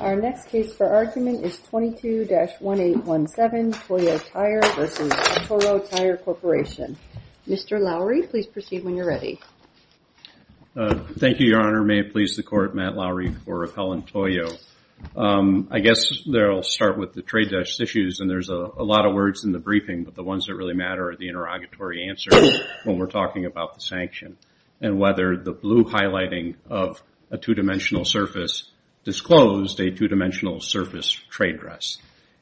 Our next case for argument is 22-1817 Toyo Tire v. Atturo Tire Corporation. Mr. Lowry, please proceed when you're ready. Thank you, Your Honor. May it please the Court, Matt Lowry for Raquel and Toyo. I guess I'll start with the trade-issues, and there's a lot of words in the briefing, but the ones that really matter are the interrogatory answers when we're talking about the sanction and whether the blue highlighting of a two-dimensional surface disclosed a two-dimensional surface trade dress.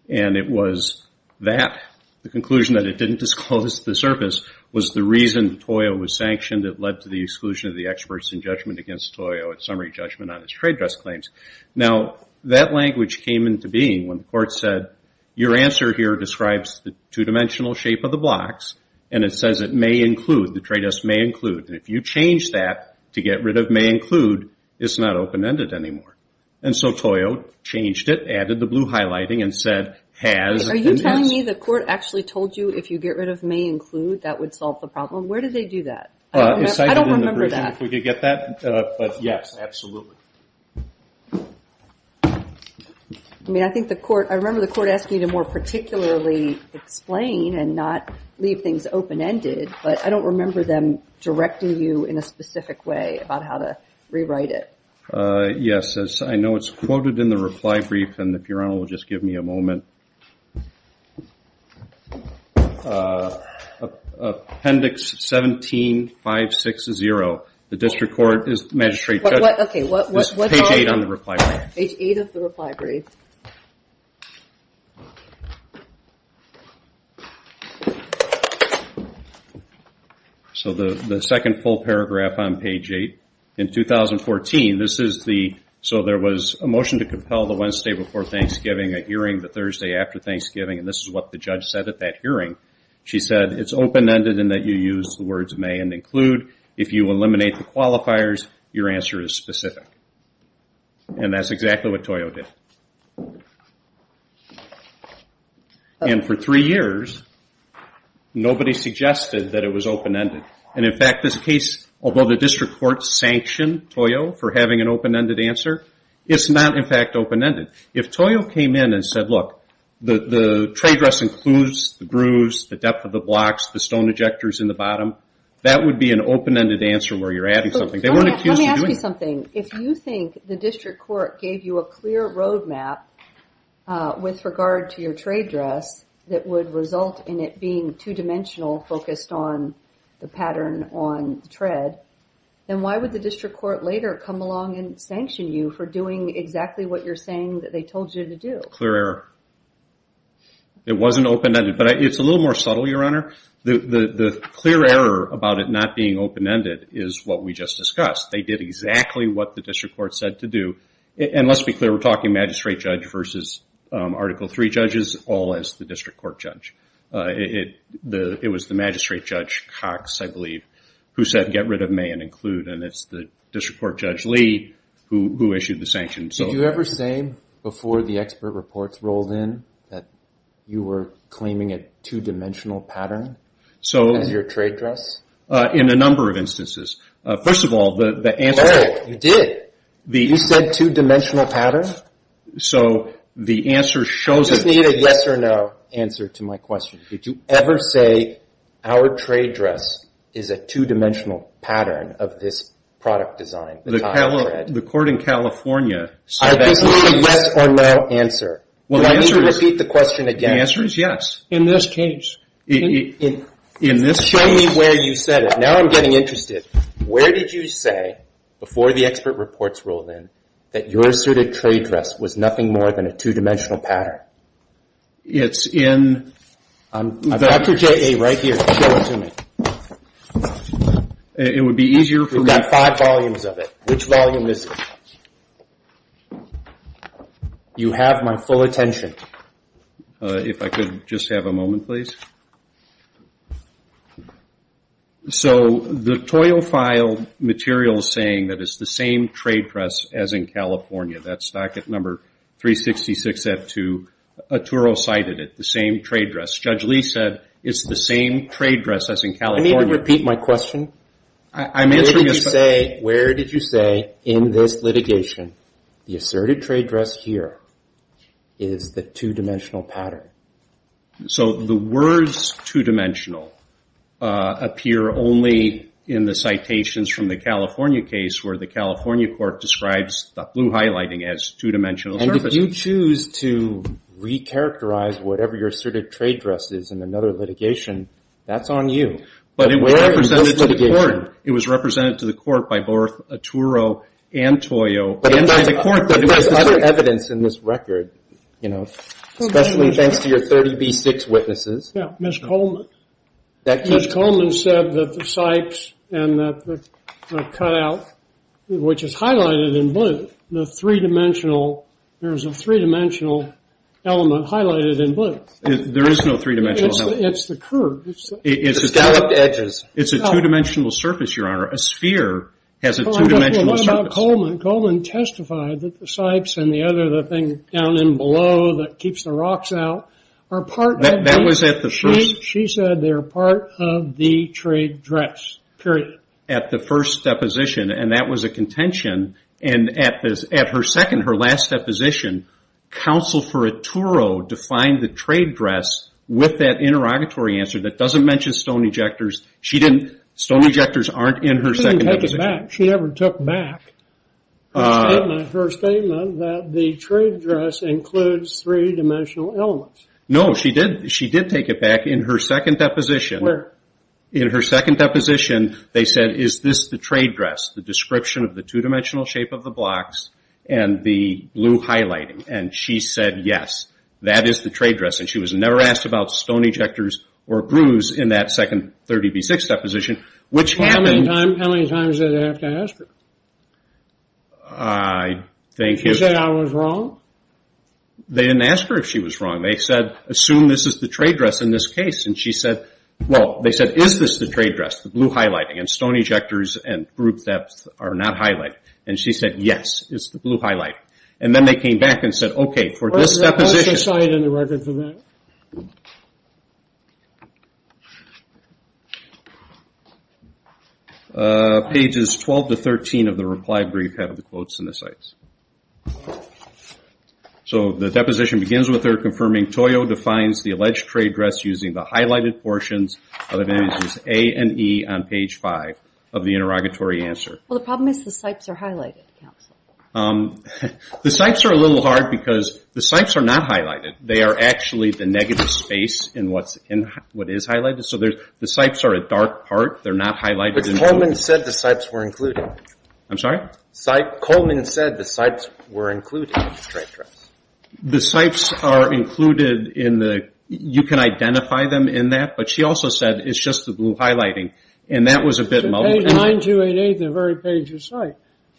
And it was that, the conclusion that it didn't disclose the surface, was the reason Toyo was sanctioned that led to the exclusion of the experts in judgment against Toyo at summary judgment on his trade dress claims. Now, that language came into being when the Court said, your answer here describes the two-dimensional shape of the blocks, and it says it may include, the trade dress may include. And if you change that to get rid of may include, it's not open-ended anymore. And so Toyo changed it, added the blue highlighting, and said has and has. Are you telling me the Court actually told you if you get rid of may include, that would solve the problem? Where did they do that? I don't remember that. I don't remember that. If we could get that, but yes, absolutely. I mean, I think the Court, I remember the Court asking you to more particularly explain and not leave things open-ended, but I don't remember them directing you in a specific way about how to rewrite it. Yes, I know it's quoted in the reply brief, and the Burano will just give me a moment. Appendix 17-560, the District Court, Magistrate Judge, page 8 of the reply brief. So the second full paragraph on page 8, in 2014, this is the, so there was a motion to compel the Wednesday before Thanksgiving, a hearing the Thursday after Thanksgiving, and this is what the judge said at that hearing. She said it's open-ended in that you use the words may and include. If you eliminate the qualifiers, your answer is specific. And that's exactly what Toyo did. And for three years, nobody suggested that it was open-ended. And in fact, this case, although the District Court sanctioned Toyo for having an open-ended answer, it's not in fact open-ended. Look, the trade dress includes the grooves, the depth of the blocks, the stone ejectors in the bottom. That would be an open-ended answer where you're adding something. They weren't accused of doing it. Let me ask you something. If you think the District Court gave you a clear road map with regard to your trade dress that would result in it being two-dimensional focused on the pattern on the tread, then why would the District Court later come along and It wasn't open-ended. But it's a little more subtle, Your Honor. The clear error about it not being open-ended is what we just discussed. They did exactly what the District Court said to do. And let's be clear, we're talking magistrate judge versus Article III judges, all as the District Court judge. It was the magistrate judge, Cox, I believe, who said get rid of may and include. And it's the District Court Judge Lee who issued the sanctions. Did you ever say before the expert reports rolled in that you were claiming a two-dimensional pattern as your trade dress? In a number of instances. First of all, the answer No, you did. You said two-dimensional pattern. So the answer shows Just need a yes or no answer to my question. Did you ever say our trade dress is a two-dimensional pattern of this product design? The court in California I have a yes or no answer. Let me repeat the question again. The answer is yes. In this case. Show me where you said it. Now I'm getting interested. Where did you say before the expert reports rolled in that your asserted trade dress was nothing more than a two-dimensional pattern? It's in I've got your JA right here. Show it to me. It would be easier for me. We've got five volumes of it. Which volume is it? You have my full attention. If I could just have a moment, please. So the toil file material is saying that it's the same trade dress as in California. That Judge Lee said it's the same trade dress as in California. Let me repeat my question. Where did you say in this litigation the asserted trade dress here is the two-dimensional pattern? So the words two-dimensional appear only in the citations from the California case where the California court describes the blue highlighting as two-dimensional. And if you choose to re-characterize whatever your asserted trade dress is in another litigation, that's on you. But it was represented to the court. It was represented to the court by both Atturo and Toyo. But there's other evidence in this record, you know, especially thanks to your 30B6 witnesses. Yeah, Ms. Coleman. Ms. Coleman said that the Sykes and that the cutout, which is highlighted in blue, the three-dimensional, there's a three-dimensional element highlighted in blue. There is no three-dimensional element. It's the curve. The scalloped edges. It's a two-dimensional surface, Your Honor. A sphere has a two-dimensional surface. Coleman testified that the Sykes and the other thing down in below that keeps the rocks out are part of the... That was at the first... She said they're part of the trade dress, period. At the first deposition. And that was a contention. And at her second, her last deposition, counsel for Atturo defined the trade dress with that interrogatory answer that doesn't mention stone ejectors. She didn't... Stone ejectors aren't in her second deposition. She never took back her statement that the trade dress includes three-dimensional elements. No, she did. She did take it back in her second deposition. In her second deposition, they said, is this the trade dress? The description of the two-dimensional shape of the blocks and the blue highlighting. And she said, yes, that is the trade dress. And she was never asked about stone ejectors or grooves in that second 30B6 deposition, which happened... How many times did they have to ask her? I think... She said I was wrong? They didn't ask her if she was wrong. They said, assume this is the trade dress in this case. And she said, well, they said, is this the trade dress, the blue highlighting? And stone ejectors and groove depth are not highlighted. And she said, yes, it's the blue highlighting. And then they came back and said, okay, for this deposition... What's the site in the record for that? Pages 12 to 13 of the reply brief have the quotes in the sites. So the deposition begins with her confirming Toyo defines the alleged trade dress using the highlighted portions of the A and E on page 5 of the interrogatory answer. Well, the problem is the sites are highlighted. The sites are a little hard because the sites are not highlighted. They are actually the negative space in what is highlighted. So the sites are a dark part. They're not highlighted. But Coleman said the sites were included. I'm sorry? Coleman said the sites were included in the trade dress. The sites are included in the... You can identify them in that. But she also said it's just the blue highlighting. And that was a bit... Page 9288, the very page of site.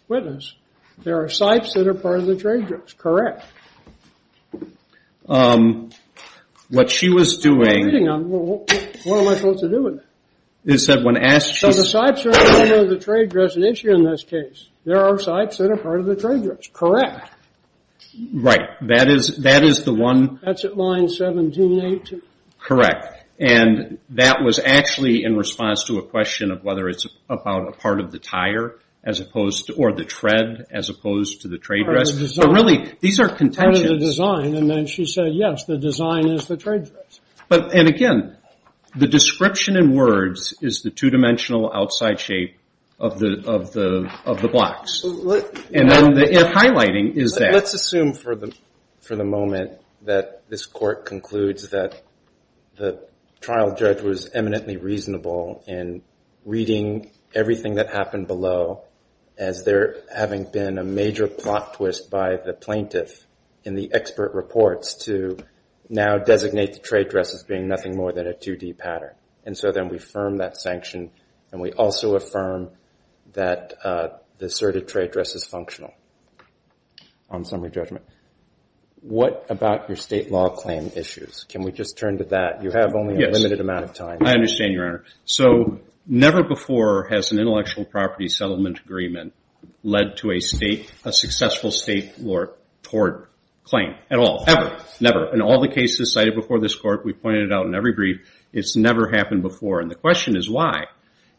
Witness, there are sites that are part of the trade dress. Correct. What she was doing... What am I supposed to do with it? They said when asked... So the sites are part of the trade dress, an issue in this case. There are sites that are part of the trade dress. Correct. Right. That is the one... That's at line 1782. Correct. And that was actually in response to a question of whether it's about a part of the tire, as opposed to... Or the tread, as opposed to the trade dress. But really, these are contentions. Part of the design. And then she said, yes, the design is the trade dress. And again, the description in words is the two-dimensional outside shape of the blocks. And then the highlighting is there. Let's assume for the moment that this court concludes that the trial judge was eminently reasonable in reading everything that happened below, as there having been a major plot twist by the plaintiff in the expert reports to now designate the trade dress as being nothing more than a 2D pattern. And so then we affirm that sanction. And we also affirm that the asserted trade dress is functional on summary judgment. What about your state law claim issues? Can we just turn to that? You have only a limited amount of time. I understand, Your Honor. So never before has an intellectual property settlement agreement led to a successful state law tort claim. At all. Ever. Never. In all the cases cited before this court, we pointed it out in every brief, it's never happened before. And the question is, why?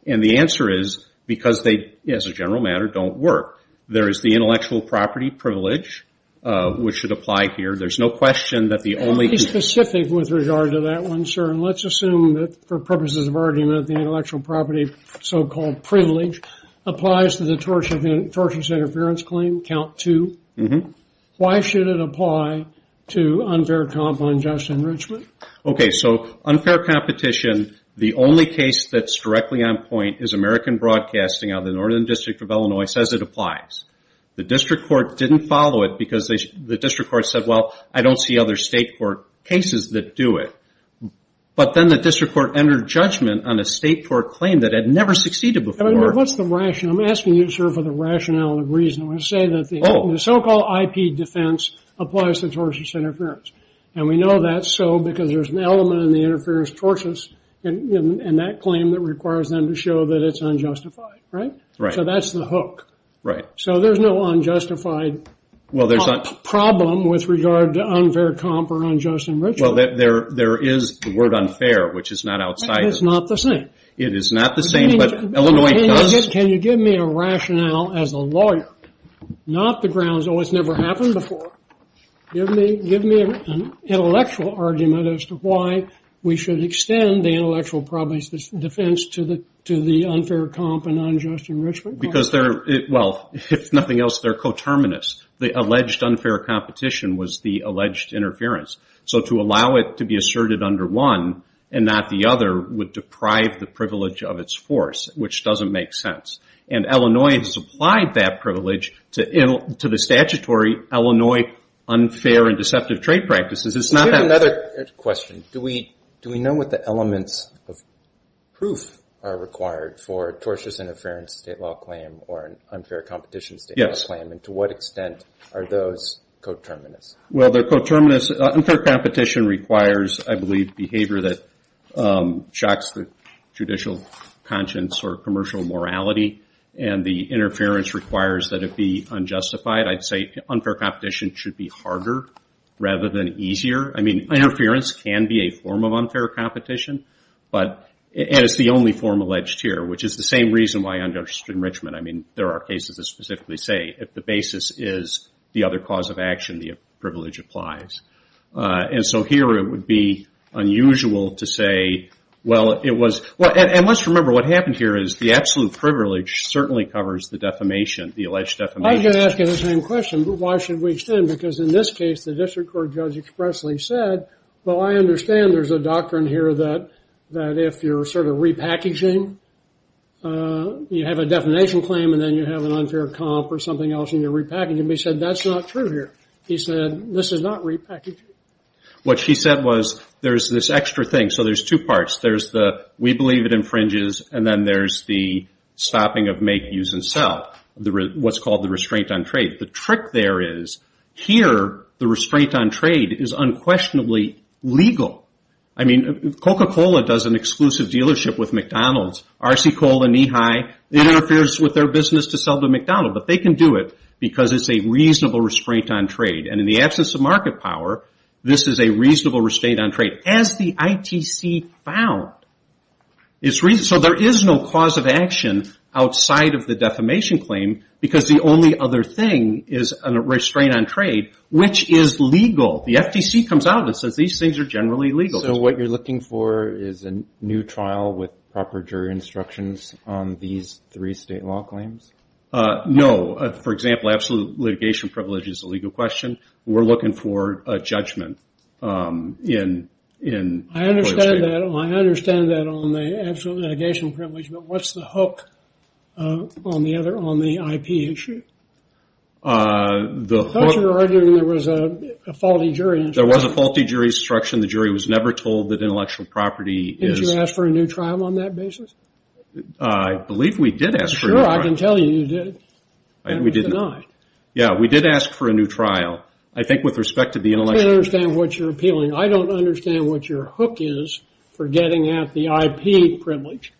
And the answer is, because they, as a general matter, don't work. There is the intellectual property privilege, which should apply here. There's no question that the only- Be specific with regard to that one, sir. And let's assume that for purposes of argument, the intellectual property, so-called privilege, applies to the tortious interference claim, count two. Why should it apply to unfair comp on just enrichment? Okay. So unfair competition, the only case that's directly on point is American Broadcasting out of the Northern District of Illinois says it applies. The district court didn't follow it because the district court said, well, I don't see other state court cases that do it. But then the district court entered judgment on a state court claim that had never succeeded before. What's the rationale? I'm asking you, sir, for the rationale and the reason. I'm going to say that the so-called IP defense applies to tortious interference. And we know that's so because there's an element in the interference tortious and that claim that requires them to show that it's unjustified, right? Right. So that's the hook. Right. So there's no unjustified problem with regard to unfair comp or unjust enrichment. Well, there is the word unfair, which is not outside- It's not the same. It is not the same, but Illinois does- Can you give me a rationale as a lawyer, not the grounds, oh, it's never happened before. Give me an intellectual argument as to why we should extend the intellectual defense to the unfair comp and unjust enrichment. Because they're, well, if nothing else, they're coterminous. The alleged unfair competition was the alleged interference. So to allow it to be asserted under one and not the other would deprive the privilege of its force, which doesn't make sense. And Illinois has applied that privilege to the statutory Illinois unfair and deceptive trade practices. It's not- I have another question. Do we know what the elements of proof are required for tortious interference state law claim or unfair competition state law claim? And to what extent are those coterminous? Well, they're coterminous. Unfair competition requires, I believe, behavior that shocks the judicial conscience or commercial morality, and the interference requires that it be unjustified. I'd say unfair competition should be harder rather than easier. I mean, interference can be a form of unfair competition, and it's the only form alleged here, which is the same reason why unjust enrichment. I mean, there are cases that specifically say if the basis is the other cause of action, the privilege applies. And so here it would be unusual to say, well, it was- And let's remember what happened here is the absolute privilege certainly covers the defamation, the alleged defamation. I was going to ask you the same question. Why should we extend? Because in this case, the district court judge expressly said, well, I understand there's a doctrine here that if you're sort of repackaging, you have a defamation claim, and then you have an unfair comp or something else, and you're repackaging. But he said that's not true here. He said this is not repackaging. What she said was there's this extra thing. So there's two parts. We believe it infringes, and then there's the stopping of make, use, and sell, what's called the restraint on trade. The trick there is here the restraint on trade is unquestionably legal. I mean, Coca-Cola does an exclusive dealership with McDonald's. RC Cole and E-Hi interferes with their business to sell to McDonald's. But they can do it because it's a reasonable restraint on trade. And in the absence of market power, this is a reasonable restraint on trade. As the ITC found, it's reasonable. So there is no cause of action outside of the defamation claim because the only other thing is a restraint on trade, which is legal. The FTC comes out and says these things are generally legal. So what you're looking for is a new trial with proper jury instructions on these three state law claims? No. For example, absolute litigation privilege is a legal question. We're looking for a judgment. I understand that on the absolute litigation privilege. But what's the hook on the IP issue? I thought you were arguing there was a faulty jury instruction. There was a faulty jury instruction. The jury was never told that intellectual property is... Did you ask for a new trial on that basis? I believe we did ask for a new trial. Sure, I can tell you you did. We did not. Yeah, we did ask for a new trial. I think with respect to the intellectual... I don't understand what you're appealing. I don't understand what your hook is for getting at the IP privilege.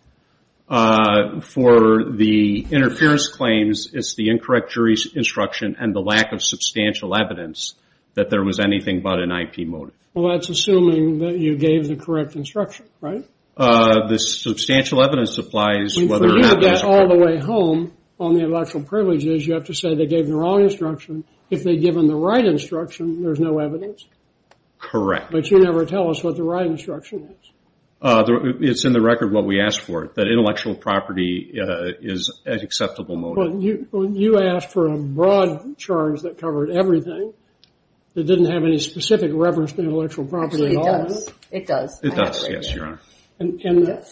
For the interference claims, it's the incorrect jury instruction and the lack of substantial evidence that there was anything but an IP motive. Well, that's assuming that you gave the correct instruction, right? The substantial evidence applies whether... And for you to get all the way home on the intellectual privilege is you have to say they gave the wrong instruction. If they'd given the right instruction, there's no evidence. Correct. But you never tell us what the right instruction is. It's in the record what we asked for, that intellectual property is an acceptable motive. But you asked for a broad charge that covered everything. It didn't have any specific reference to intellectual property at all. It does. It does. It does. Yes, Your Honor.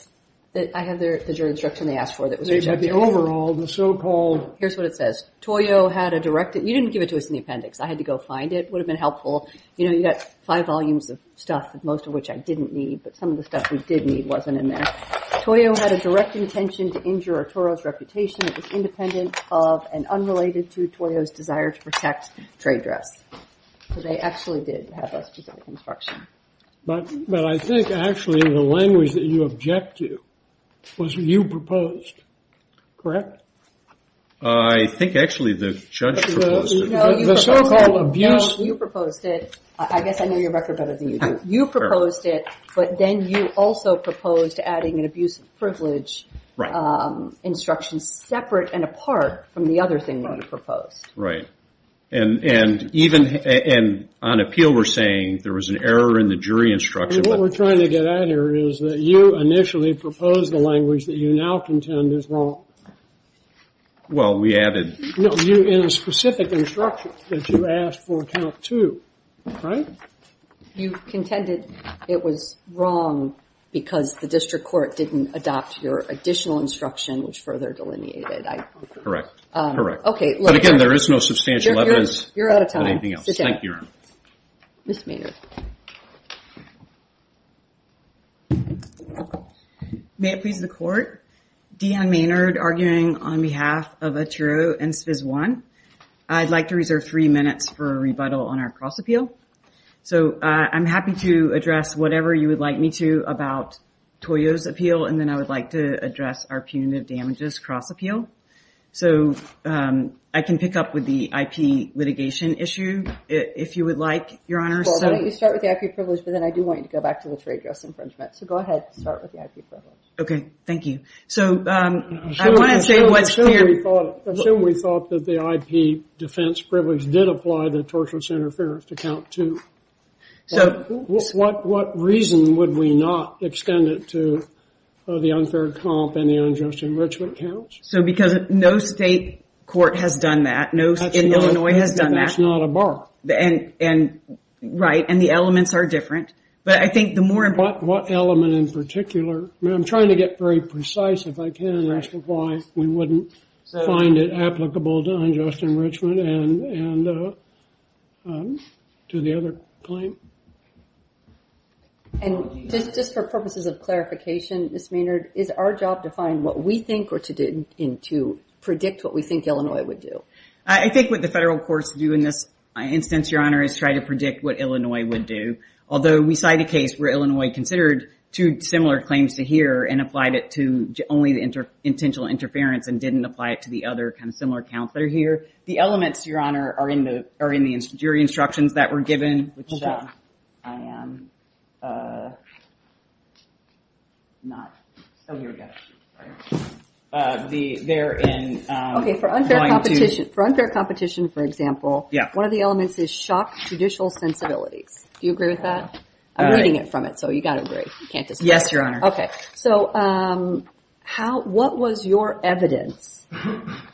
I have the jury instruction they asked for that was rejected. The overall, the so-called... Here's what it says. Toyo had a direct... You didn't give it to us in the appendix. I had to go find it. It would have been helpful. You know, you got five volumes of stuff, most of which I didn't need. But some of the stuff we did need wasn't in there. Toyo had a direct intention to injure Arturo's reputation. It was independent of and unrelated to Toyo's desire to protect trade dress. So they actually did have a specific instruction. But I think actually the language that you object to was what you proposed. Correct? I think actually the judge proposed it. The so-called abuse... No, you proposed it. I guess I know your record better than you do. You proposed it, but then you also proposed adding an abuse of privilege instruction separate and apart from the other thing that you proposed. Right. And even on appeal we're saying there was an error in the jury instruction. What we're trying to get at here is that you initially proposed the language that you now contend is wrong. Well, we added... No, in a specific instruction that you asked for count two, right? You contended it was wrong because the district court didn't adopt your additional instruction, which further delineated, I think. Correct. Correct. Okay. But again, there is no substantial evidence. You're out of time. Thank you, Your Honor. Ms. Maynard. May it please the court, Deanne Maynard arguing on behalf of Atturo and SFIS I. I'd like to reserve three minutes for a rebuttal on our cross appeal. So I'm happy to address whatever you would like me to about Toyo's appeal, and then I would like to address our punitive damages cross appeal. So I can pick up with the IP litigation issue if you would like, Your Honor. Why don't you start with the IP privilege, but then I do want you to go back to the trade dress infringement. So go ahead. Start with the IP privilege. Okay. Thank you. So I want to say what's clear. Assume we thought that the IP defense privilege did apply the tortious interference to count two. So what reason would we not extend it to the unfair comp and the unjust enrichment counts? So because no state court has done that. No state in Illinois has done that. That's not a bar. And right. And the elements are different. But I think the more important... What element in particular? I'm trying to get very precise if I can, as to why we wouldn't find it applicable to unjust enrichment and to the other claim. And just for purposes of clarification, Ms. Maynard, is our job to find what we think or to predict what we think Illinois would do? I think what the federal courts do in this instance, Your Honor, is try to predict what Illinois would do. Although we cite a case where Illinois considered two similar claims to here and applied it to only the intentional interference and didn't apply it to the other kind of similar counts that are here. The elements, Your Honor, are in the jury instructions that were given. Okay. Which I am not... Oh, here we go. They're in... For unfair competition, for example, one of the elements is shock judicial sensibilities. Do you agree with that? I'm reading it from it. So you got to agree. You can't disagree. Yes, Your Honor. Okay. So what was your evidence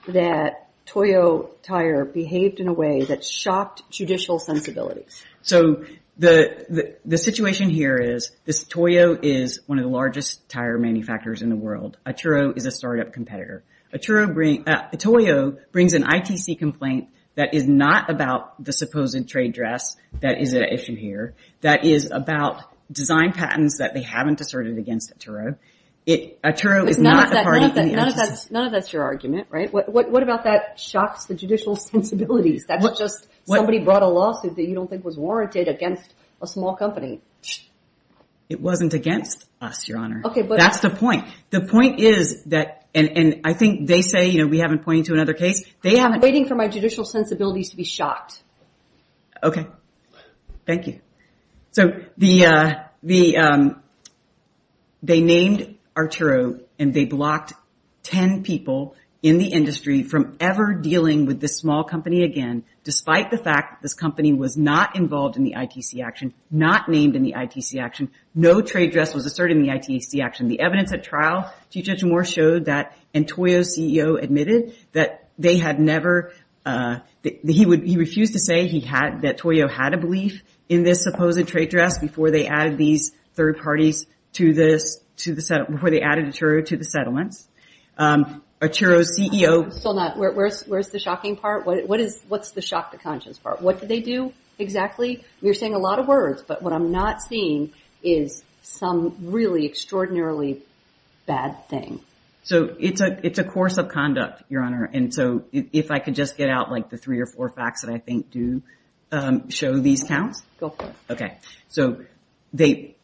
that Toyo Tire behaved in a way that shocked judicial sensibilities? So the situation here is this Toyo is one of the largest tire manufacturers in the world. Atturo is a startup competitor. Atturo brings... Toyo brings an ITC complaint that is not about the supposed trade dress that is at issue here. That is about design patents that they haven't asserted against Atturo. Atturo is not a party in the ITC. None of that's your argument, right? What about that shocks the judicial sensibilities? That's just somebody brought a lawsuit that you don't think was warranted against a small company. It wasn't against us, Your Honor. Okay, but... That's the point. The point is that... And I think they say, you know, we haven't pointed to another case. They haven't... I'm waiting for my judicial sensibilities to be shocked. Okay. Thank you. So they named Atturo and they blocked 10 people in the industry from ever dealing with this small company again, despite the fact this company was not involved in the ITC action, not named in the ITC action. No trade dress was asserted in the ITC action. The evidence at trial, Chief Judge Moore showed that... And Toyo's CEO admitted that they had never... He refused to say he had... That Toyo had a belief in this supposed trade dress before they added these third parties to this... To the... Before they added Atturo to the settlements. Atturo's CEO... Still not... Where's the shocking part? What is... What's the shock to conscience part? What did they do exactly? You're saying a lot of words, but what I'm not seeing is some really extraordinarily bad thing. So it's a course of conduct, Your Honor. And so if I could just get out like the three or four facts that I think do show these counts. Go for it. Okay. So they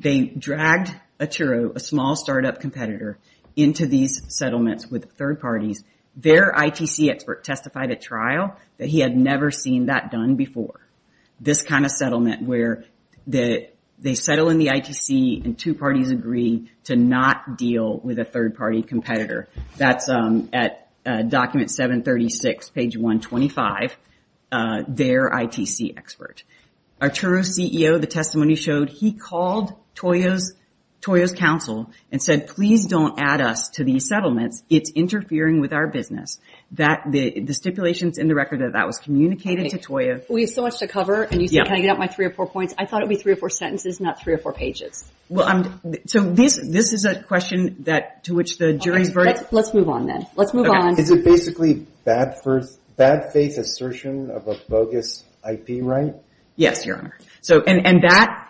dragged Atturo, a small startup competitor, into these settlements with third parties. Their ITC expert testified at trial that he had never seen that done before. This kind of settlement where they settle in the ITC and two parties agree to not deal with a third party competitor. That's at document 736, page 125. Their ITC expert. Atturo's CEO, the testimony showed he called Toyo's council and said, please don't add us to these settlements. It's interfering with our business. That the stipulations in the record that that was communicated to Toyo... We have so much to cover. And you said, can I get out my three or four points? I thought it would be three or four sentences, not three or four pages. Well, so this is a question that to which the jury's verdict... Let's move on then. Let's move on. Is it basically bad faith assertion of a bogus IP right? Yes, Your Honor.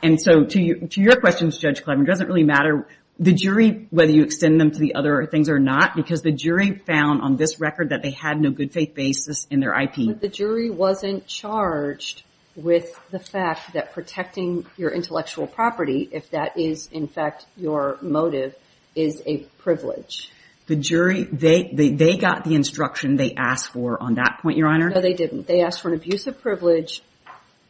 And so to your questions, Judge Klevin, it doesn't really matter the jury, whether you extend them to the other things or not, because the jury found on this record that they had no good faith basis in their IP. The jury wasn't charged with the fact that protecting your intellectual property, if that is in fact your motive, is a privilege. The jury, they got the instruction they asked for on that point, Your Honor? No, they didn't. They asked for an abuse of privilege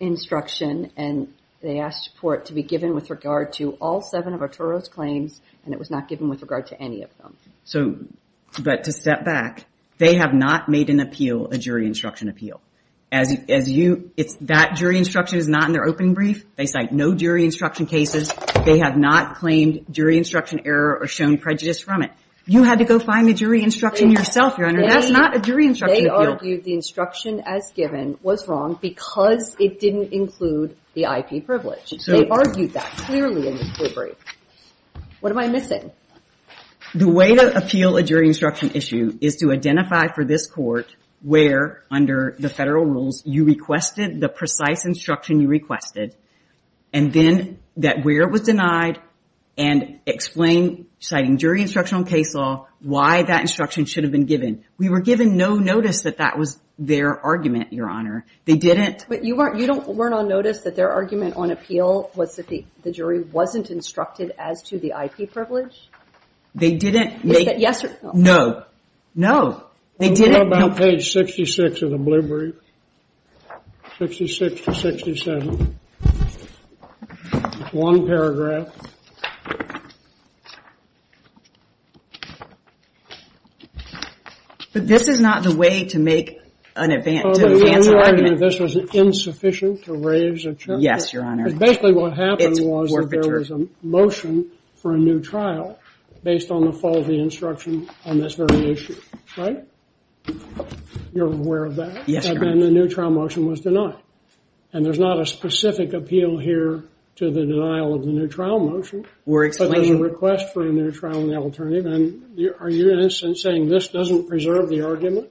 instruction and they asked for it to be given with regard to all seven of Atturo's claims and it was not given with regard to any of them. So, but to step back, they have not made an appeal a jury instruction appeal. As you, it's that jury instruction is not in their opening brief. They cite no jury instruction cases. They have not claimed jury instruction error or shown prejudice from it. You had to go find the jury instruction yourself, Your Honor. That's not a jury instruction appeal. They argued the instruction as given was wrong because it didn't include the IP privilege. They argued that clearly in the brief. What am I missing? The way to appeal a jury instruction issue is to identify for this court where, under the federal rules, you requested the precise instruction you requested and then that where it was denied and explain, citing jury instruction on case law, why that instruction should have been given. We were given no notice that that was their argument, Your Honor. They didn't. But you weren't, you don't, weren't on notice that their argument on appeal was that the jury wasn't instructed as to the IP privilege? They didn't make. Yes or no? No. No. They didn't. How about page 66 of the blue brief? 66 to 67. One paragraph. But this is not the way to make an advance argument. This was insufficient to raise a charge. Yes, Your Honor. Basically, what happened was there was a motion for a new trial based on the faulty instruction on this very issue, right? You're aware of that? Yes, Your Honor. And then the new trial motion was denied. And there's not a specific appeal here to the denial of the new trial motion. We're explaining. But there's a request for a new trial and the alternative. And are you, in a sense, saying this doesn't preserve the argument?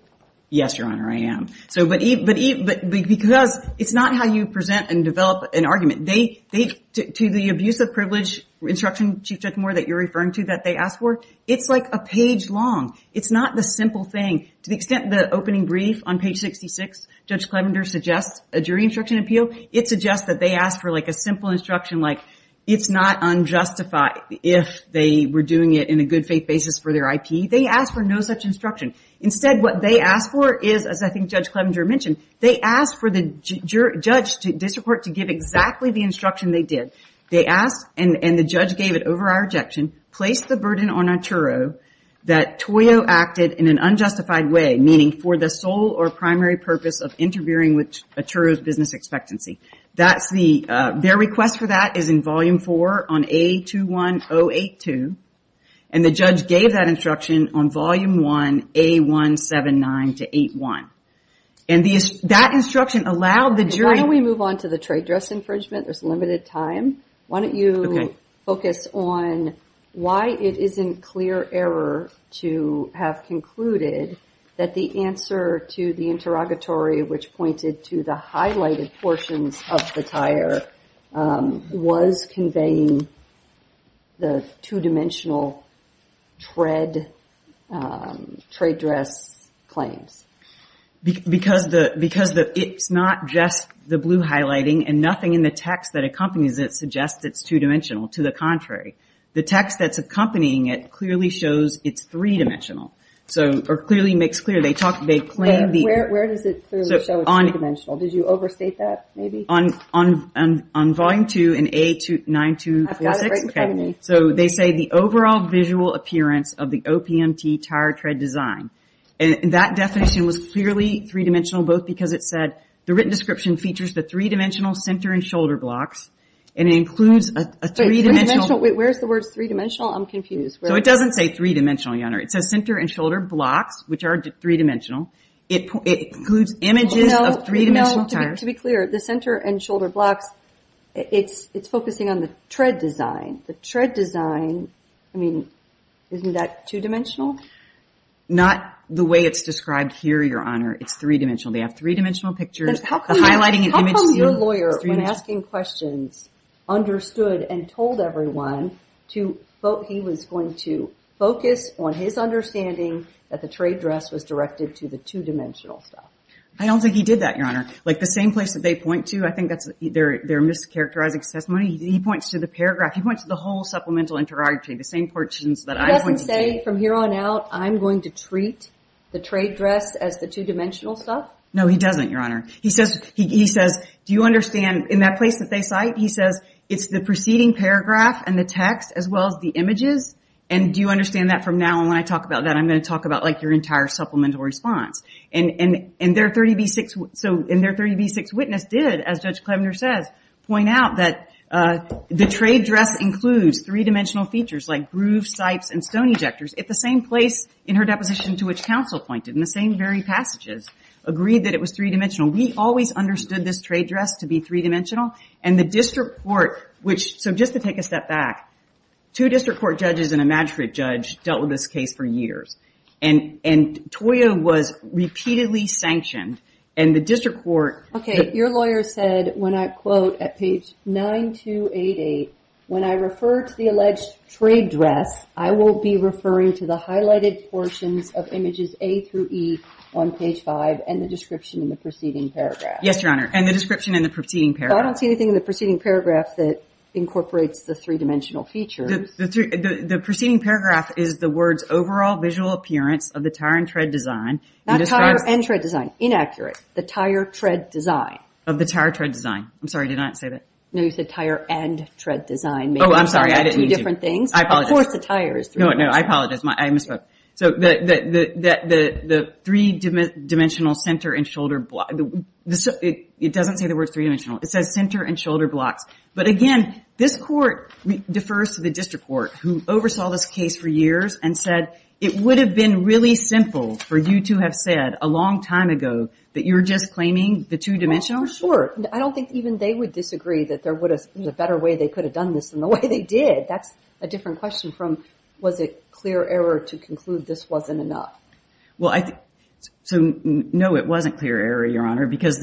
Yes, Your Honor, I am. So, but because it's not how you present and develop an argument. To the abuse of privilege instruction, Chief Judge Moore, that you're referring to, that they asked for, it's like a page long. It's not the simple thing. To the extent the opening brief on page 66, Judge Clevenger suggests a jury instruction appeal, it suggests that they asked for a simple instruction like it's not unjustified if they were doing it in a good faith basis for their IP. They asked for no such instruction. Instead, what they asked for is, as I think Judge Clevenger mentioned, they asked for the judge to disreport, to give exactly the instruction they did. They asked, and the judge gave it over our objection, place the burden on Atturo that Toyo acted in an unjustified way, meaning for the sole or primary purpose of interfering with Atturo's business expectancy. That's the, their request for that is in volume four on A21082. And the judge gave that instruction on volume one, A179 to 81. And that instruction allowed the jury- Why don't we move on to the trade dress infringement? There's limited time. Why don't you focus on why it is in clear error to have concluded that the answer to the interrogatory, which pointed to the highlighted portions of the tire, was conveying the two-dimensional tread, trade dress claims. Because it's not just the blue highlighting and nothing in the text that accompanies it that suggests it's two-dimensional. To the contrary. The text that's accompanying it clearly shows it's three-dimensional. So, or clearly makes clear. They talk, they claim the- Where does it clearly show it's three-dimensional? Did you overstate that, maybe? On volume two in A9246. I've got it right in front of me. So they say the overall visual appearance of the OPMT tire tread design. And that definition was clearly three-dimensional, both because it said, the written description features the three-dimensional center and shoulder blocks and it includes a three-dimensional- Wait, where's the words three-dimensional? I'm confused. So it doesn't say three-dimensional, Your Honor. It says center and shoulder blocks, which are three-dimensional. It includes images of three-dimensional tires. To be clear, the center and shoulder blocks, it's focusing on the tread design. The tread design, I mean, isn't that two-dimensional? Not the way it's described here, Your Honor. It's three-dimensional. They have three-dimensional pictures, the highlighting and image- understood and told everyone he was going to focus on his understanding that the trade dress was directed to the two-dimensional stuff. I don't think he did that, Your Honor. Like the same place that they point to, I think that's their mischaracterizing testimony. He points to the paragraph. He points to the whole supplemental interrogatory, the same portions that I- He doesn't say from here on out, I'm going to treat the trade dress as the two-dimensional stuff? No, he doesn't, Your Honor. He says, do you understand, in that place that they cite, he says it's the preceding paragraph and the text as well as the images, and do you understand that from now on when I talk about that, I'm going to talk about like your entire supplemental response. And their 30B6 witness did, as Judge Klevner says, point out that the trade dress includes three-dimensional features like grooves, sipes, and stone ejectors at the same place in her deposition to which counsel pointed in the same very passages, agreed that it was three-dimensional. We always understood this trade dress to be three-dimensional, and the district court, which, so just to take a step back, two district court judges and a magistrate judge dealt with this case for years, and Toya was repeatedly sanctioned, and the district court- Okay, your lawyer said, when I quote at page 9288, when I refer to the alleged trade dress, I will be referring of images A through E on page 5 and the description in the preceding paragraph. Yes, Your Honor, and the description in the preceding paragraph. I don't see anything in the preceding paragraph that incorporates the three-dimensional features. The preceding paragraph is the words, overall visual appearance of the tire and tread design. Not tire and tread design, inaccurate, the tire tread design. Of the tire tread design. I'm sorry, did I not say that? No, you said tire and tread design. Oh, I'm sorry, I didn't mean to. Two different things. I apologize. Of course, the tire is three-dimensional. No, no, I apologize, I misspoke. So the three-dimensional center and shoulder, it doesn't say the word three-dimensional. It says center and shoulder blocks. But again, this court defers to the district court who oversaw this case for years and said it would have been really simple for you to have said a long time ago that you were just claiming the two-dimensional. Sure, I don't think even they would disagree that there was a better way they could have done this than the way they did. That's a different question from was it clear error to conclude this wasn't enough? Well, so no, it wasn't clear error, Your Honor, because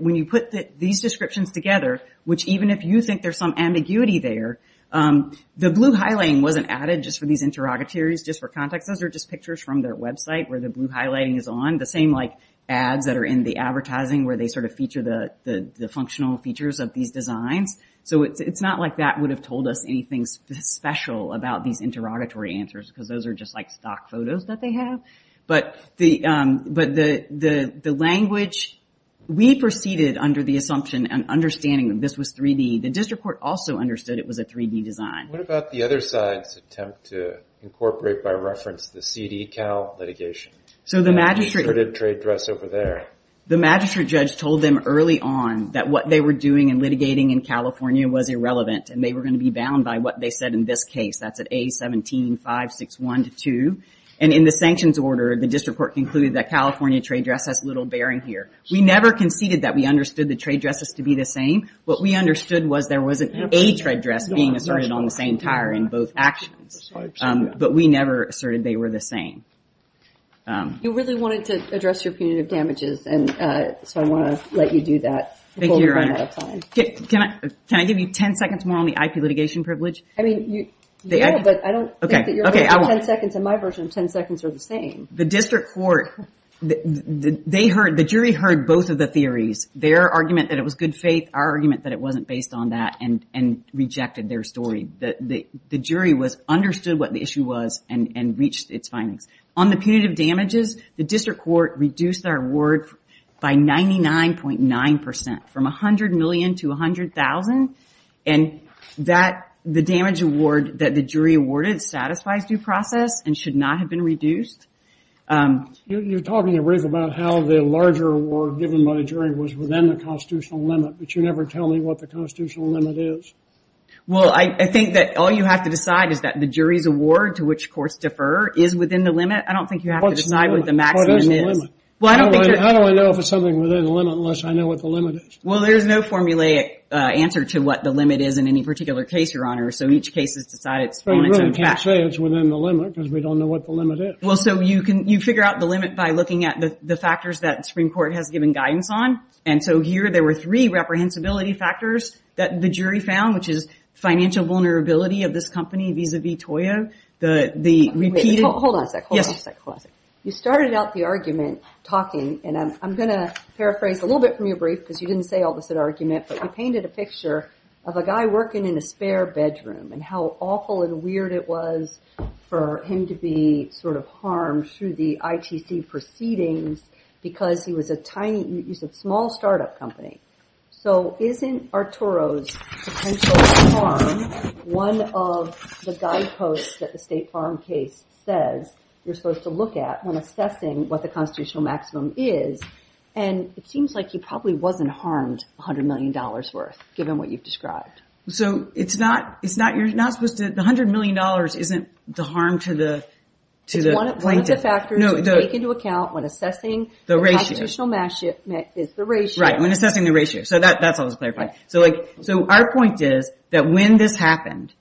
when you put these descriptions together, which even if you think there's some ambiguity there, the blue highlighting wasn't added just for these interrogatories, just for context. Those are just pictures from their website where the blue highlighting is on. The same like ads that are in the advertising where they sort of feature the functional features of these designs. So it's not like that would have told us anything special about these interrogatory answers because those are just like stock photos that they have. But the language, we proceeded under the assumption and understanding that this was 3D. The district court also understood it was a 3D design. What about the other side's attempt to incorporate by reference the CD-Cal litigation? So the magistrate- We put a trade dress over there. The magistrate judge told them early on that what they were doing and litigating in California was irrelevant, and they were going to be bound by what they said in this case. That's at A-17-561-2. And in the sanctions order, the district court concluded that California trade dress has little bearing here. We never conceded that we understood the trade dresses to be the same. What we understood was there was an A trade dress being asserted on the same tire in both actions. But we never asserted they were the same. You really wanted to address your punitive damages, and so I want to let you do that. Thank you, Your Honor. Can I give you 10 seconds more on the IP litigation privilege? I mean, yeah, but I don't think your version of 10 seconds and my version of 10 seconds are the same. The district court, the jury heard both of the theories. Their argument that it was good faith. Our argument that it wasn't based on that and rejected their story. The jury understood what the issue was and reached its findings. On the punitive damages, the district court reduced their award by 99.9 percent, from $100 million to $100,000. And the damage award that the jury awarded satisfies due process and should not have been reduced. You're talking about how the larger award given by the jury was within the constitutional limit, but you never tell me what the constitutional limit is. Well, I think that all you have to decide is that the jury's award to which courts defer is within the limit. I don't think you have to decide what the maximum is. How do I know if it's something within the limit unless I know what the limit is? Well, there's no formulaic answer to what the limit is in any particular case, Your Honor. So each case is decided on its own. I really can't say it's within the limit because we don't know what the limit is. Well, so you can, you figure out the limit by looking at the factors that the Supreme Court has given guidance on. And so here there were three reprehensibility factors that the jury found, which is financial vulnerability of this company vis-a-vis Toyo, the repeated... Hold on a sec. You started out the argument talking, and I'm going to paraphrase a little bit from your brief because you didn't say all this at argument, but you painted a picture of a guy working in a spare bedroom and how awful and weird it was for him to be sort of harmed through the ITC proceedings because he was a tiny, he's a small startup company. So isn't Arturo's potential harm one of the guideposts that the State Farm case says you're supposed to look at when assessing what the constitutional maximum is? And it seems like he probably wasn't harmed $100 million worth, given what you've described. So it's not, you're not supposed to... The $100 million isn't the harm to the plaintiff. It's one of the factors you take into account when assessing the ratio. The constitutional maximum is the ratio. Right, when assessing the ratio. So that's all that's clarified. So our point is that when this happened,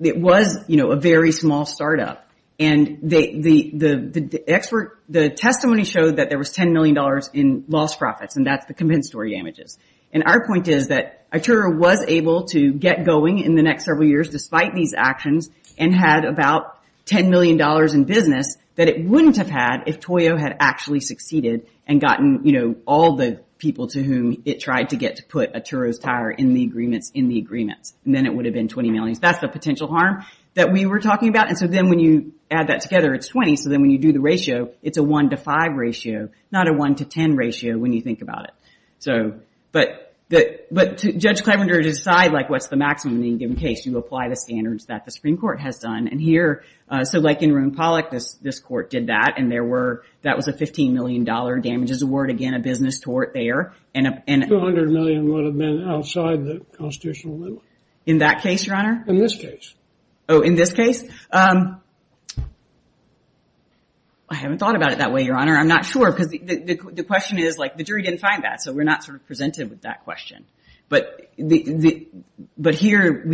it was a very small startup and the testimony showed that there was $10 million in lost profits, and that's the compensatory damages. And our point is that Arturo was able to get going in the next several years, despite these actions, and had about $10 million in business that it wouldn't have had if Toyo had actually succeeded and gotten all the people to whom it tried to get to put Arturo's tire in the agreements. And then it would have been $20 million. That's the potential harm that we were talking about. And so then when you add that together, it's 20. So then when you do the ratio, it's a one to five ratio, not a one to 10 ratio when you think about it. But Judge Clevenger, to decide what's the maximum in any given case, you apply the standards that the Supreme Court has done. And here, so like in Roone Pollock, this court did that and that was a $15 million damages award. Again, a business tort there. And $200 million would have been outside the constitutional limit. In that case, Your Honor? In this case. Oh, in this case? I haven't thought about it that way, Your Honor. I'm not sure because the question is, the jury didn't find that. So we're not sort of presented with that question. But here,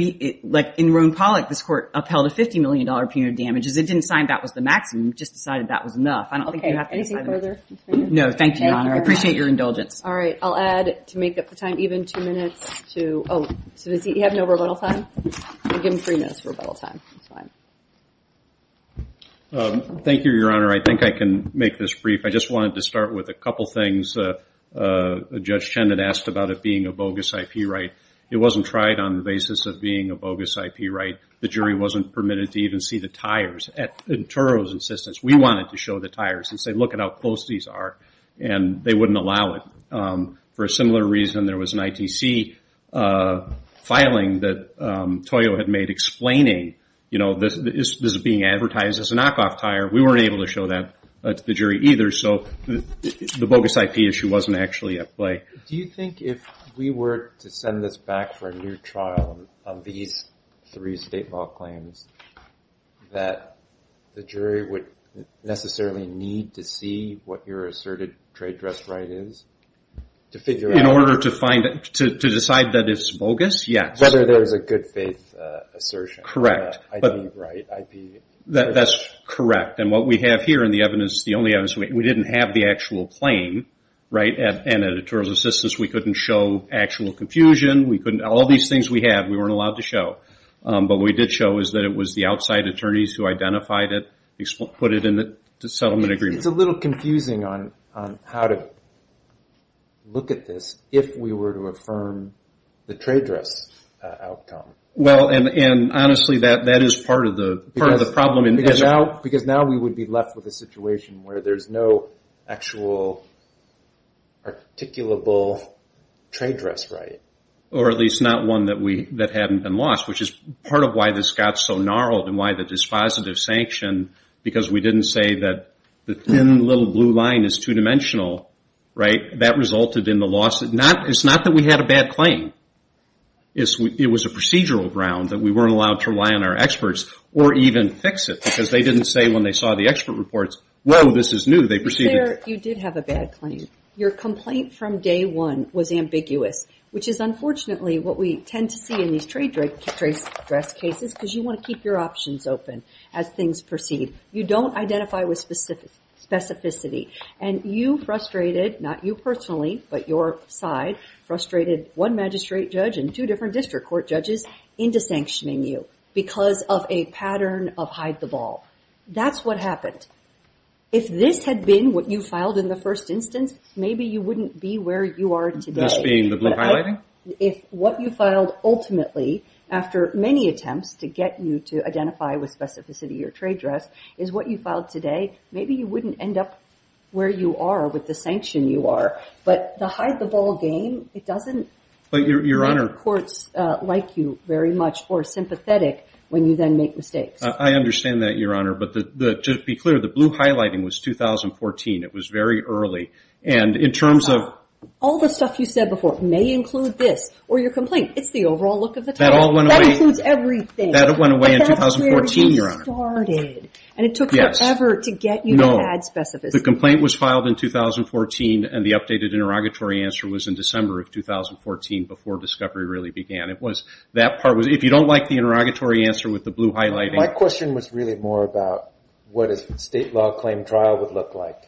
like in Roone Pollock, this court upheld a $50 million punitive damages. It didn't sign that was the maximum. It just decided that was enough. I don't think you have to sign that. No, thank you, Your Honor. I appreciate your indulgence. All right, I'll add to make up the time, even two minutes to, oh, so does he have no rebuttal time? I'll give him three minutes for rebuttal time. That's fine. Thank you, Your Honor. I think I can make this brief. I just wanted to start with a couple things Judge Chen had asked about it being a bogus IP right. It wasn't tried on the basis of being a bogus IP right. The jury wasn't permitted to even see the tires. At Turow's insistence, we wanted to show the tires and say, look at how close these are. And they wouldn't allow it. For a similar reason, there was an ITC filing that Toyo had made explaining, you know, this is being advertised as a knockoff tire. We weren't able to show that to the jury either. So the bogus IP issue wasn't actually at play. Do you think if we were to send this back for a new trial of these three state law claims, that the jury would necessarily need to see what your asserted trade dress right is to figure out? In order to find it, to decide that it's bogus? Yes. Whether there's a good faith assertion. Correct. IP right. That's correct. And what we have here in the evidence, the only evidence, we didn't have the actual claim, right? And at Attorney's Assistance, we couldn't show actual confusion. We couldn't. All these things we had, we weren't allowed to show. But what we did show is that it was the outside attorneys who identified it, put it in the settlement agreement. It's a little confusing on how to look at this if we were to affirm the trade dress outcome. Well, and honestly, that is part of the problem. Because now we would be left with a situation where there's no actual articulable trade dress right. Or at least not one that hadn't been lost, which is part of why this got so gnarled and why the dispositive sanction, because we didn't say that the thin little blue line is two-dimensional, right? That resulted in the loss. It's not that we had a bad claim. It was a procedural ground that we weren't allowed to rely on our experts or even fix it because they didn't say when they saw the expert reports, well, this is new. They proceeded. You did have a bad claim. Your complaint from day one was ambiguous, which is unfortunately what we tend to see in these trade dress cases because you want to keep your options open as things proceed. You don't identify with specificity. And you frustrated, not you personally, but your side frustrated one magistrate judge and two different district court judges into sanctioning you because of a pattern of hide the ball. That's what happened. If this had been what you filed in the first instance, maybe you wouldn't be where you are today. This being the blue highlighting? If what you filed ultimately after many attempts to get you to identify with specificity, your trade dress is what you filed today, maybe you wouldn't end up where you are with the sanction you are. But the hide the ball game, it doesn't- But Your Honor- Courts like you very much or sympathetic when you then make mistakes. I understand that, Your Honor. But just be clear, the blue highlighting was 2014. It was very early. And in terms of- All the stuff you said before, it may include this or your complaint. It's the overall look of the title. That all went away. That includes everything. That went away in 2014, Your Honor. But that's where you started. And it took forever to get you to add specificity. No, the complaint was filed in 2014 and the updated interrogatory answer was in December of 2014 before discovery really began. It was, that part was, if you don't like the interrogatory answer with the blue highlighting- My question was really more about what a state law claim trial would look like.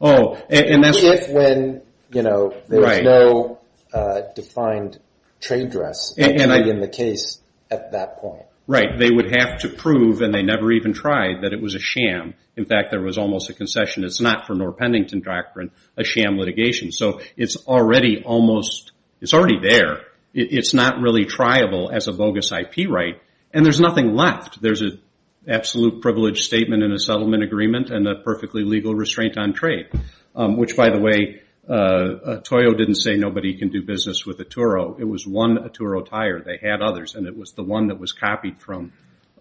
Oh, and that's- If when, you know, there's no defined trade dress in the case at that point. Right. They would have to prove, and they never even tried, that it was a sham. In fact, there was almost a concession. It's not for Norr Pendington doctrine, a sham litigation. So it's already almost, it's already there. It's not really triable as a bogus IP right. And there's nothing left. There's an absolute privilege statement and a settlement agreement and a perfectly legal restraint on trade. Which, by the way, Toyo didn't say nobody can do business with Atturo. It was one Atturo tire. They had others and it was the one that was copied from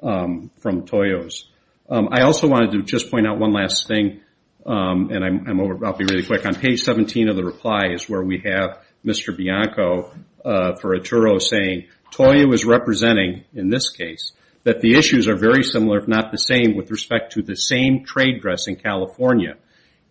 Toyo's. I also wanted to just point out one last thing, and I'll be really quick. On page 17 of the reply is where we have Mr. Bianco for Atturo saying, Toyo is representing, in this case, that the issues are very similar, if not the same, with respect to the same trade dress in California.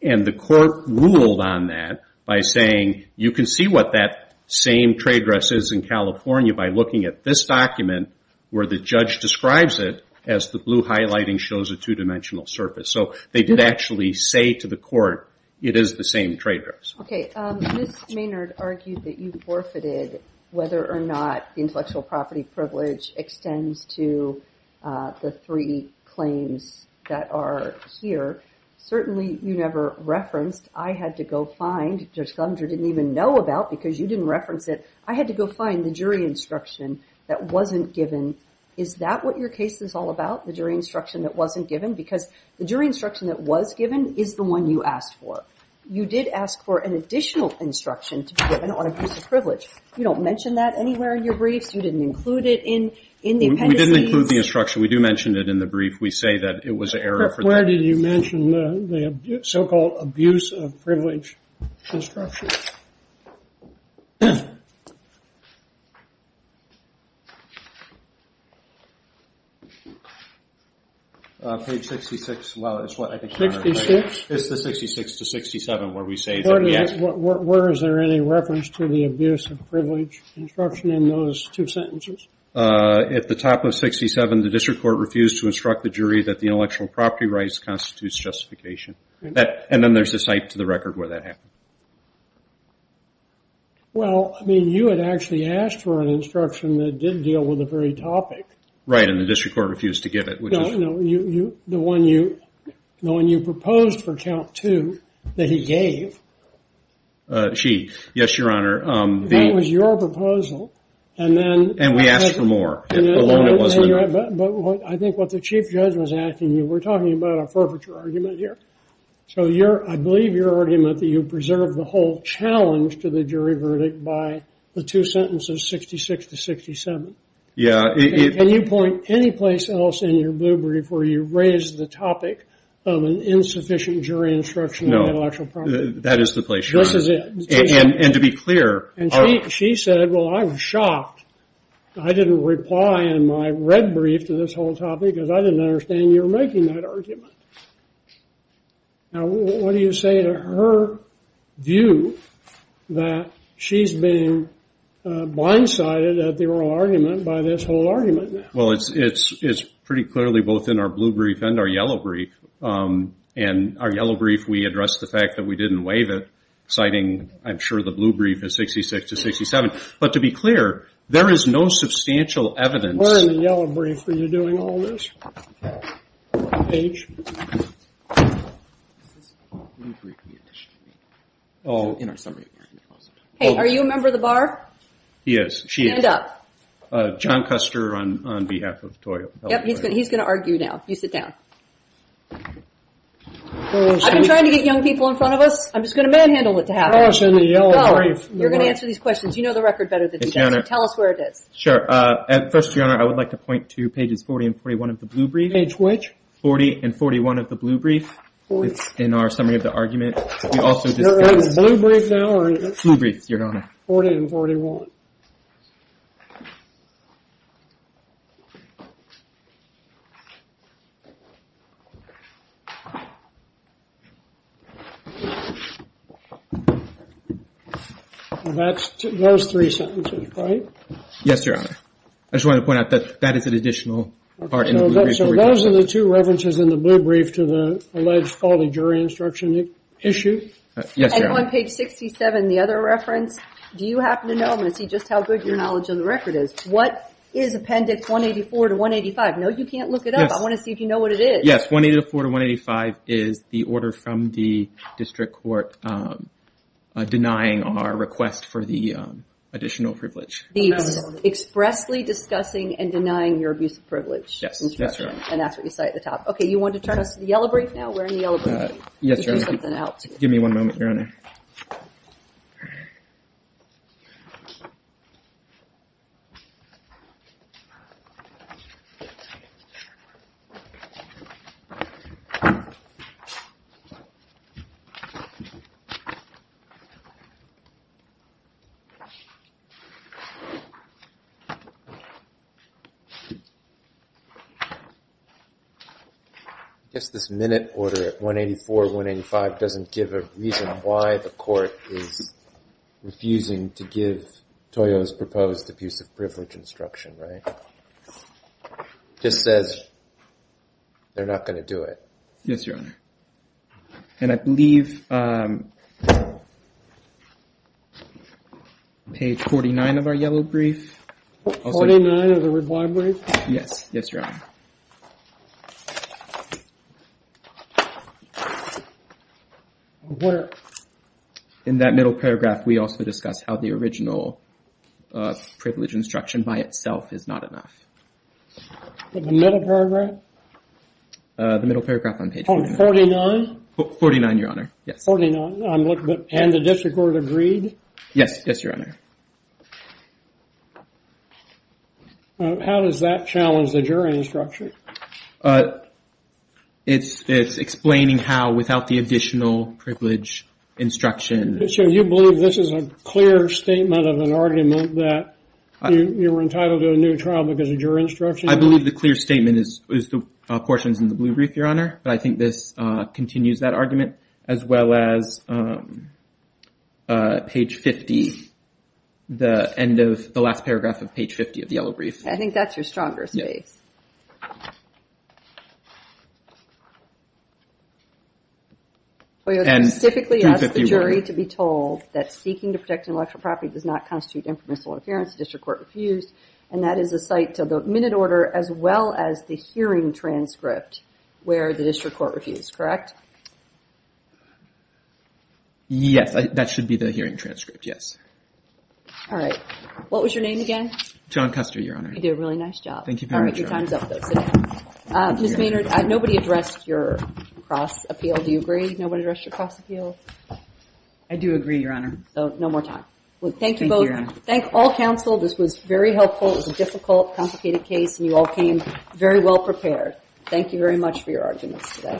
And the court ruled on that by saying you can see what that same trade dress is in California by looking at this document where the judge describes it as the blue highlighting shows a two-dimensional surface. So they did actually say to the court it is the same trade dress. Okay, Ms. Maynard argued that you forfeited whether or not the intellectual property privilege extends to the three claims that are here. Certainly, you never referenced. I had to go find, Judge Glumter didn't even know about, because you didn't reference it. I had to go find the jury instruction that wasn't given. Is that what your case is all about? The jury instruction that wasn't given? Because the jury instruction that was given is the one you asked for. You did ask for an additional instruction to be given on abuse of privilege. You don't mention that anywhere in your briefs. You didn't include it in the appendices. We didn't include the instruction. We do mention it in the brief. We say that it was an error. Where did you mention the so-called abuse of privilege instruction? Page 66. Well, it's what I think. 66? It's the 66 to 67 where we say. Where is there any reference to the abuse of privilege instruction in those two sentences? At the top of 67, the district court refused to instruct the jury that the intellectual property rights constitutes justification. And then there's a cite to the record where that happened. Well, I mean, you had actually asked for an instruction that didn't deal with the very topic. Right. And the district court refused to give it. The one you proposed for count two that he gave. She. Yes, Your Honor. That was your proposal. And then. And we asked for more. I think what the chief judge was asking you, we're talking about a forfeiture argument here. So you're I believe you're arguing that that you preserve the whole challenge to the jury verdict by the two sentences, 66 to 67. Yeah. Can you point any place else in your blue brief where you raise the topic of an insufficient jury instruction on intellectual property? That is the place. This is it. And to be clear. And she said, well, I'm shocked. I didn't reply in my red brief to this whole topic because I didn't understand you're making that argument. Now, what do you say to her view that she's being blindsided at the oral argument by this whole argument? Well, it's it's it's pretty clearly both in our blue brief and our yellow brief and our yellow brief. We address the fact that we didn't waive it, citing I'm sure the blue brief is 66 to 67. But to be clear, there is no substantial evidence. We're in the yellow brief. Are you doing all this? Paige? Hey, are you a member of the bar? Yes, she is. Stand up. John Custer on behalf of TOI. Yep, he's going to argue now. You sit down. I've been trying to get young people in front of us. I'm just going to manhandle it. To have us in the yellow brief. You're going to answer these questions. You know the record better. Tell us where it is. At first, your honor, I would like to point to pages 40 and 41 of the blue brief. Page which? 40 and 41 of the blue brief. In our summary of the argument. Blue brief, your honor. 40 and 41. That's those three sentences, right? Yes, your honor. I just want to point out that that is an additional part. So those are the two references in the blue brief to the alleged quality jury instruction issue. Yes, you're on page 67. The other reference. Do you happen to know? I'm going to see just how good your knowledge of the record is. What is appendix 184 to 185? No, you can't look it up. I want to see if you know what it is. Yes, 184 to 185 is the order from the district court denying our request for the additional privilege. He's expressly discussing and denying your abuse of privilege. Yes, that's right. And that's what you say at the top. Okay, you want to turn us to the yellow brief now? We're in the yellow brief. Yes, your honor. Give me one moment, your honor. Thank you. I guess this minute order at 184, 185 doesn't give a reason why the court is refusing to give Toyo's proposed abusive privilege instruction, right? Just says they're not going to do it. Yes, your honor. And I believe page 49 of our yellow brief. 49 of the reward brief? Yes, yes, your honor. Where? In that middle paragraph, we also discussed how the original privilege instruction by itself is not enough. In the middle paragraph? The middle paragraph on page 49. On 49? 49, your honor, yes. How does that challenge the jury's recommendation? Well, the jury's recommendation is that the district court It's explaining how without the additional privilege instruction. So you believe this is a clear statement of an argument that you were entitled to a new trial because of your instruction? I believe the clear statement is the portions in the blue brief, your honor. But I think this continues that argument, as well as page 50, the end of the last paragraph of page 50 of the yellow brief. I think that's your strongest case. And specifically ask the jury to be told that seeking to protect intellectual property does not constitute inference or interference. The district court refused. And that is a cite to the minute order, as well as the hearing transcript where the district court refused, correct? Yes, that should be the hearing transcript, yes. All right. What was your name again? John Custer, your honor. You did a really nice job. Thank you very much. Your time's up, though. Ms. Maynard, nobody addressed your cross appeal. Do you agree nobody addressed your cross appeal? I do agree, your honor. So no more time. Thank all counsel. This was very helpful. It was a difficult, complicated case. And you all came very well prepared. Thank you very much for your arguments today.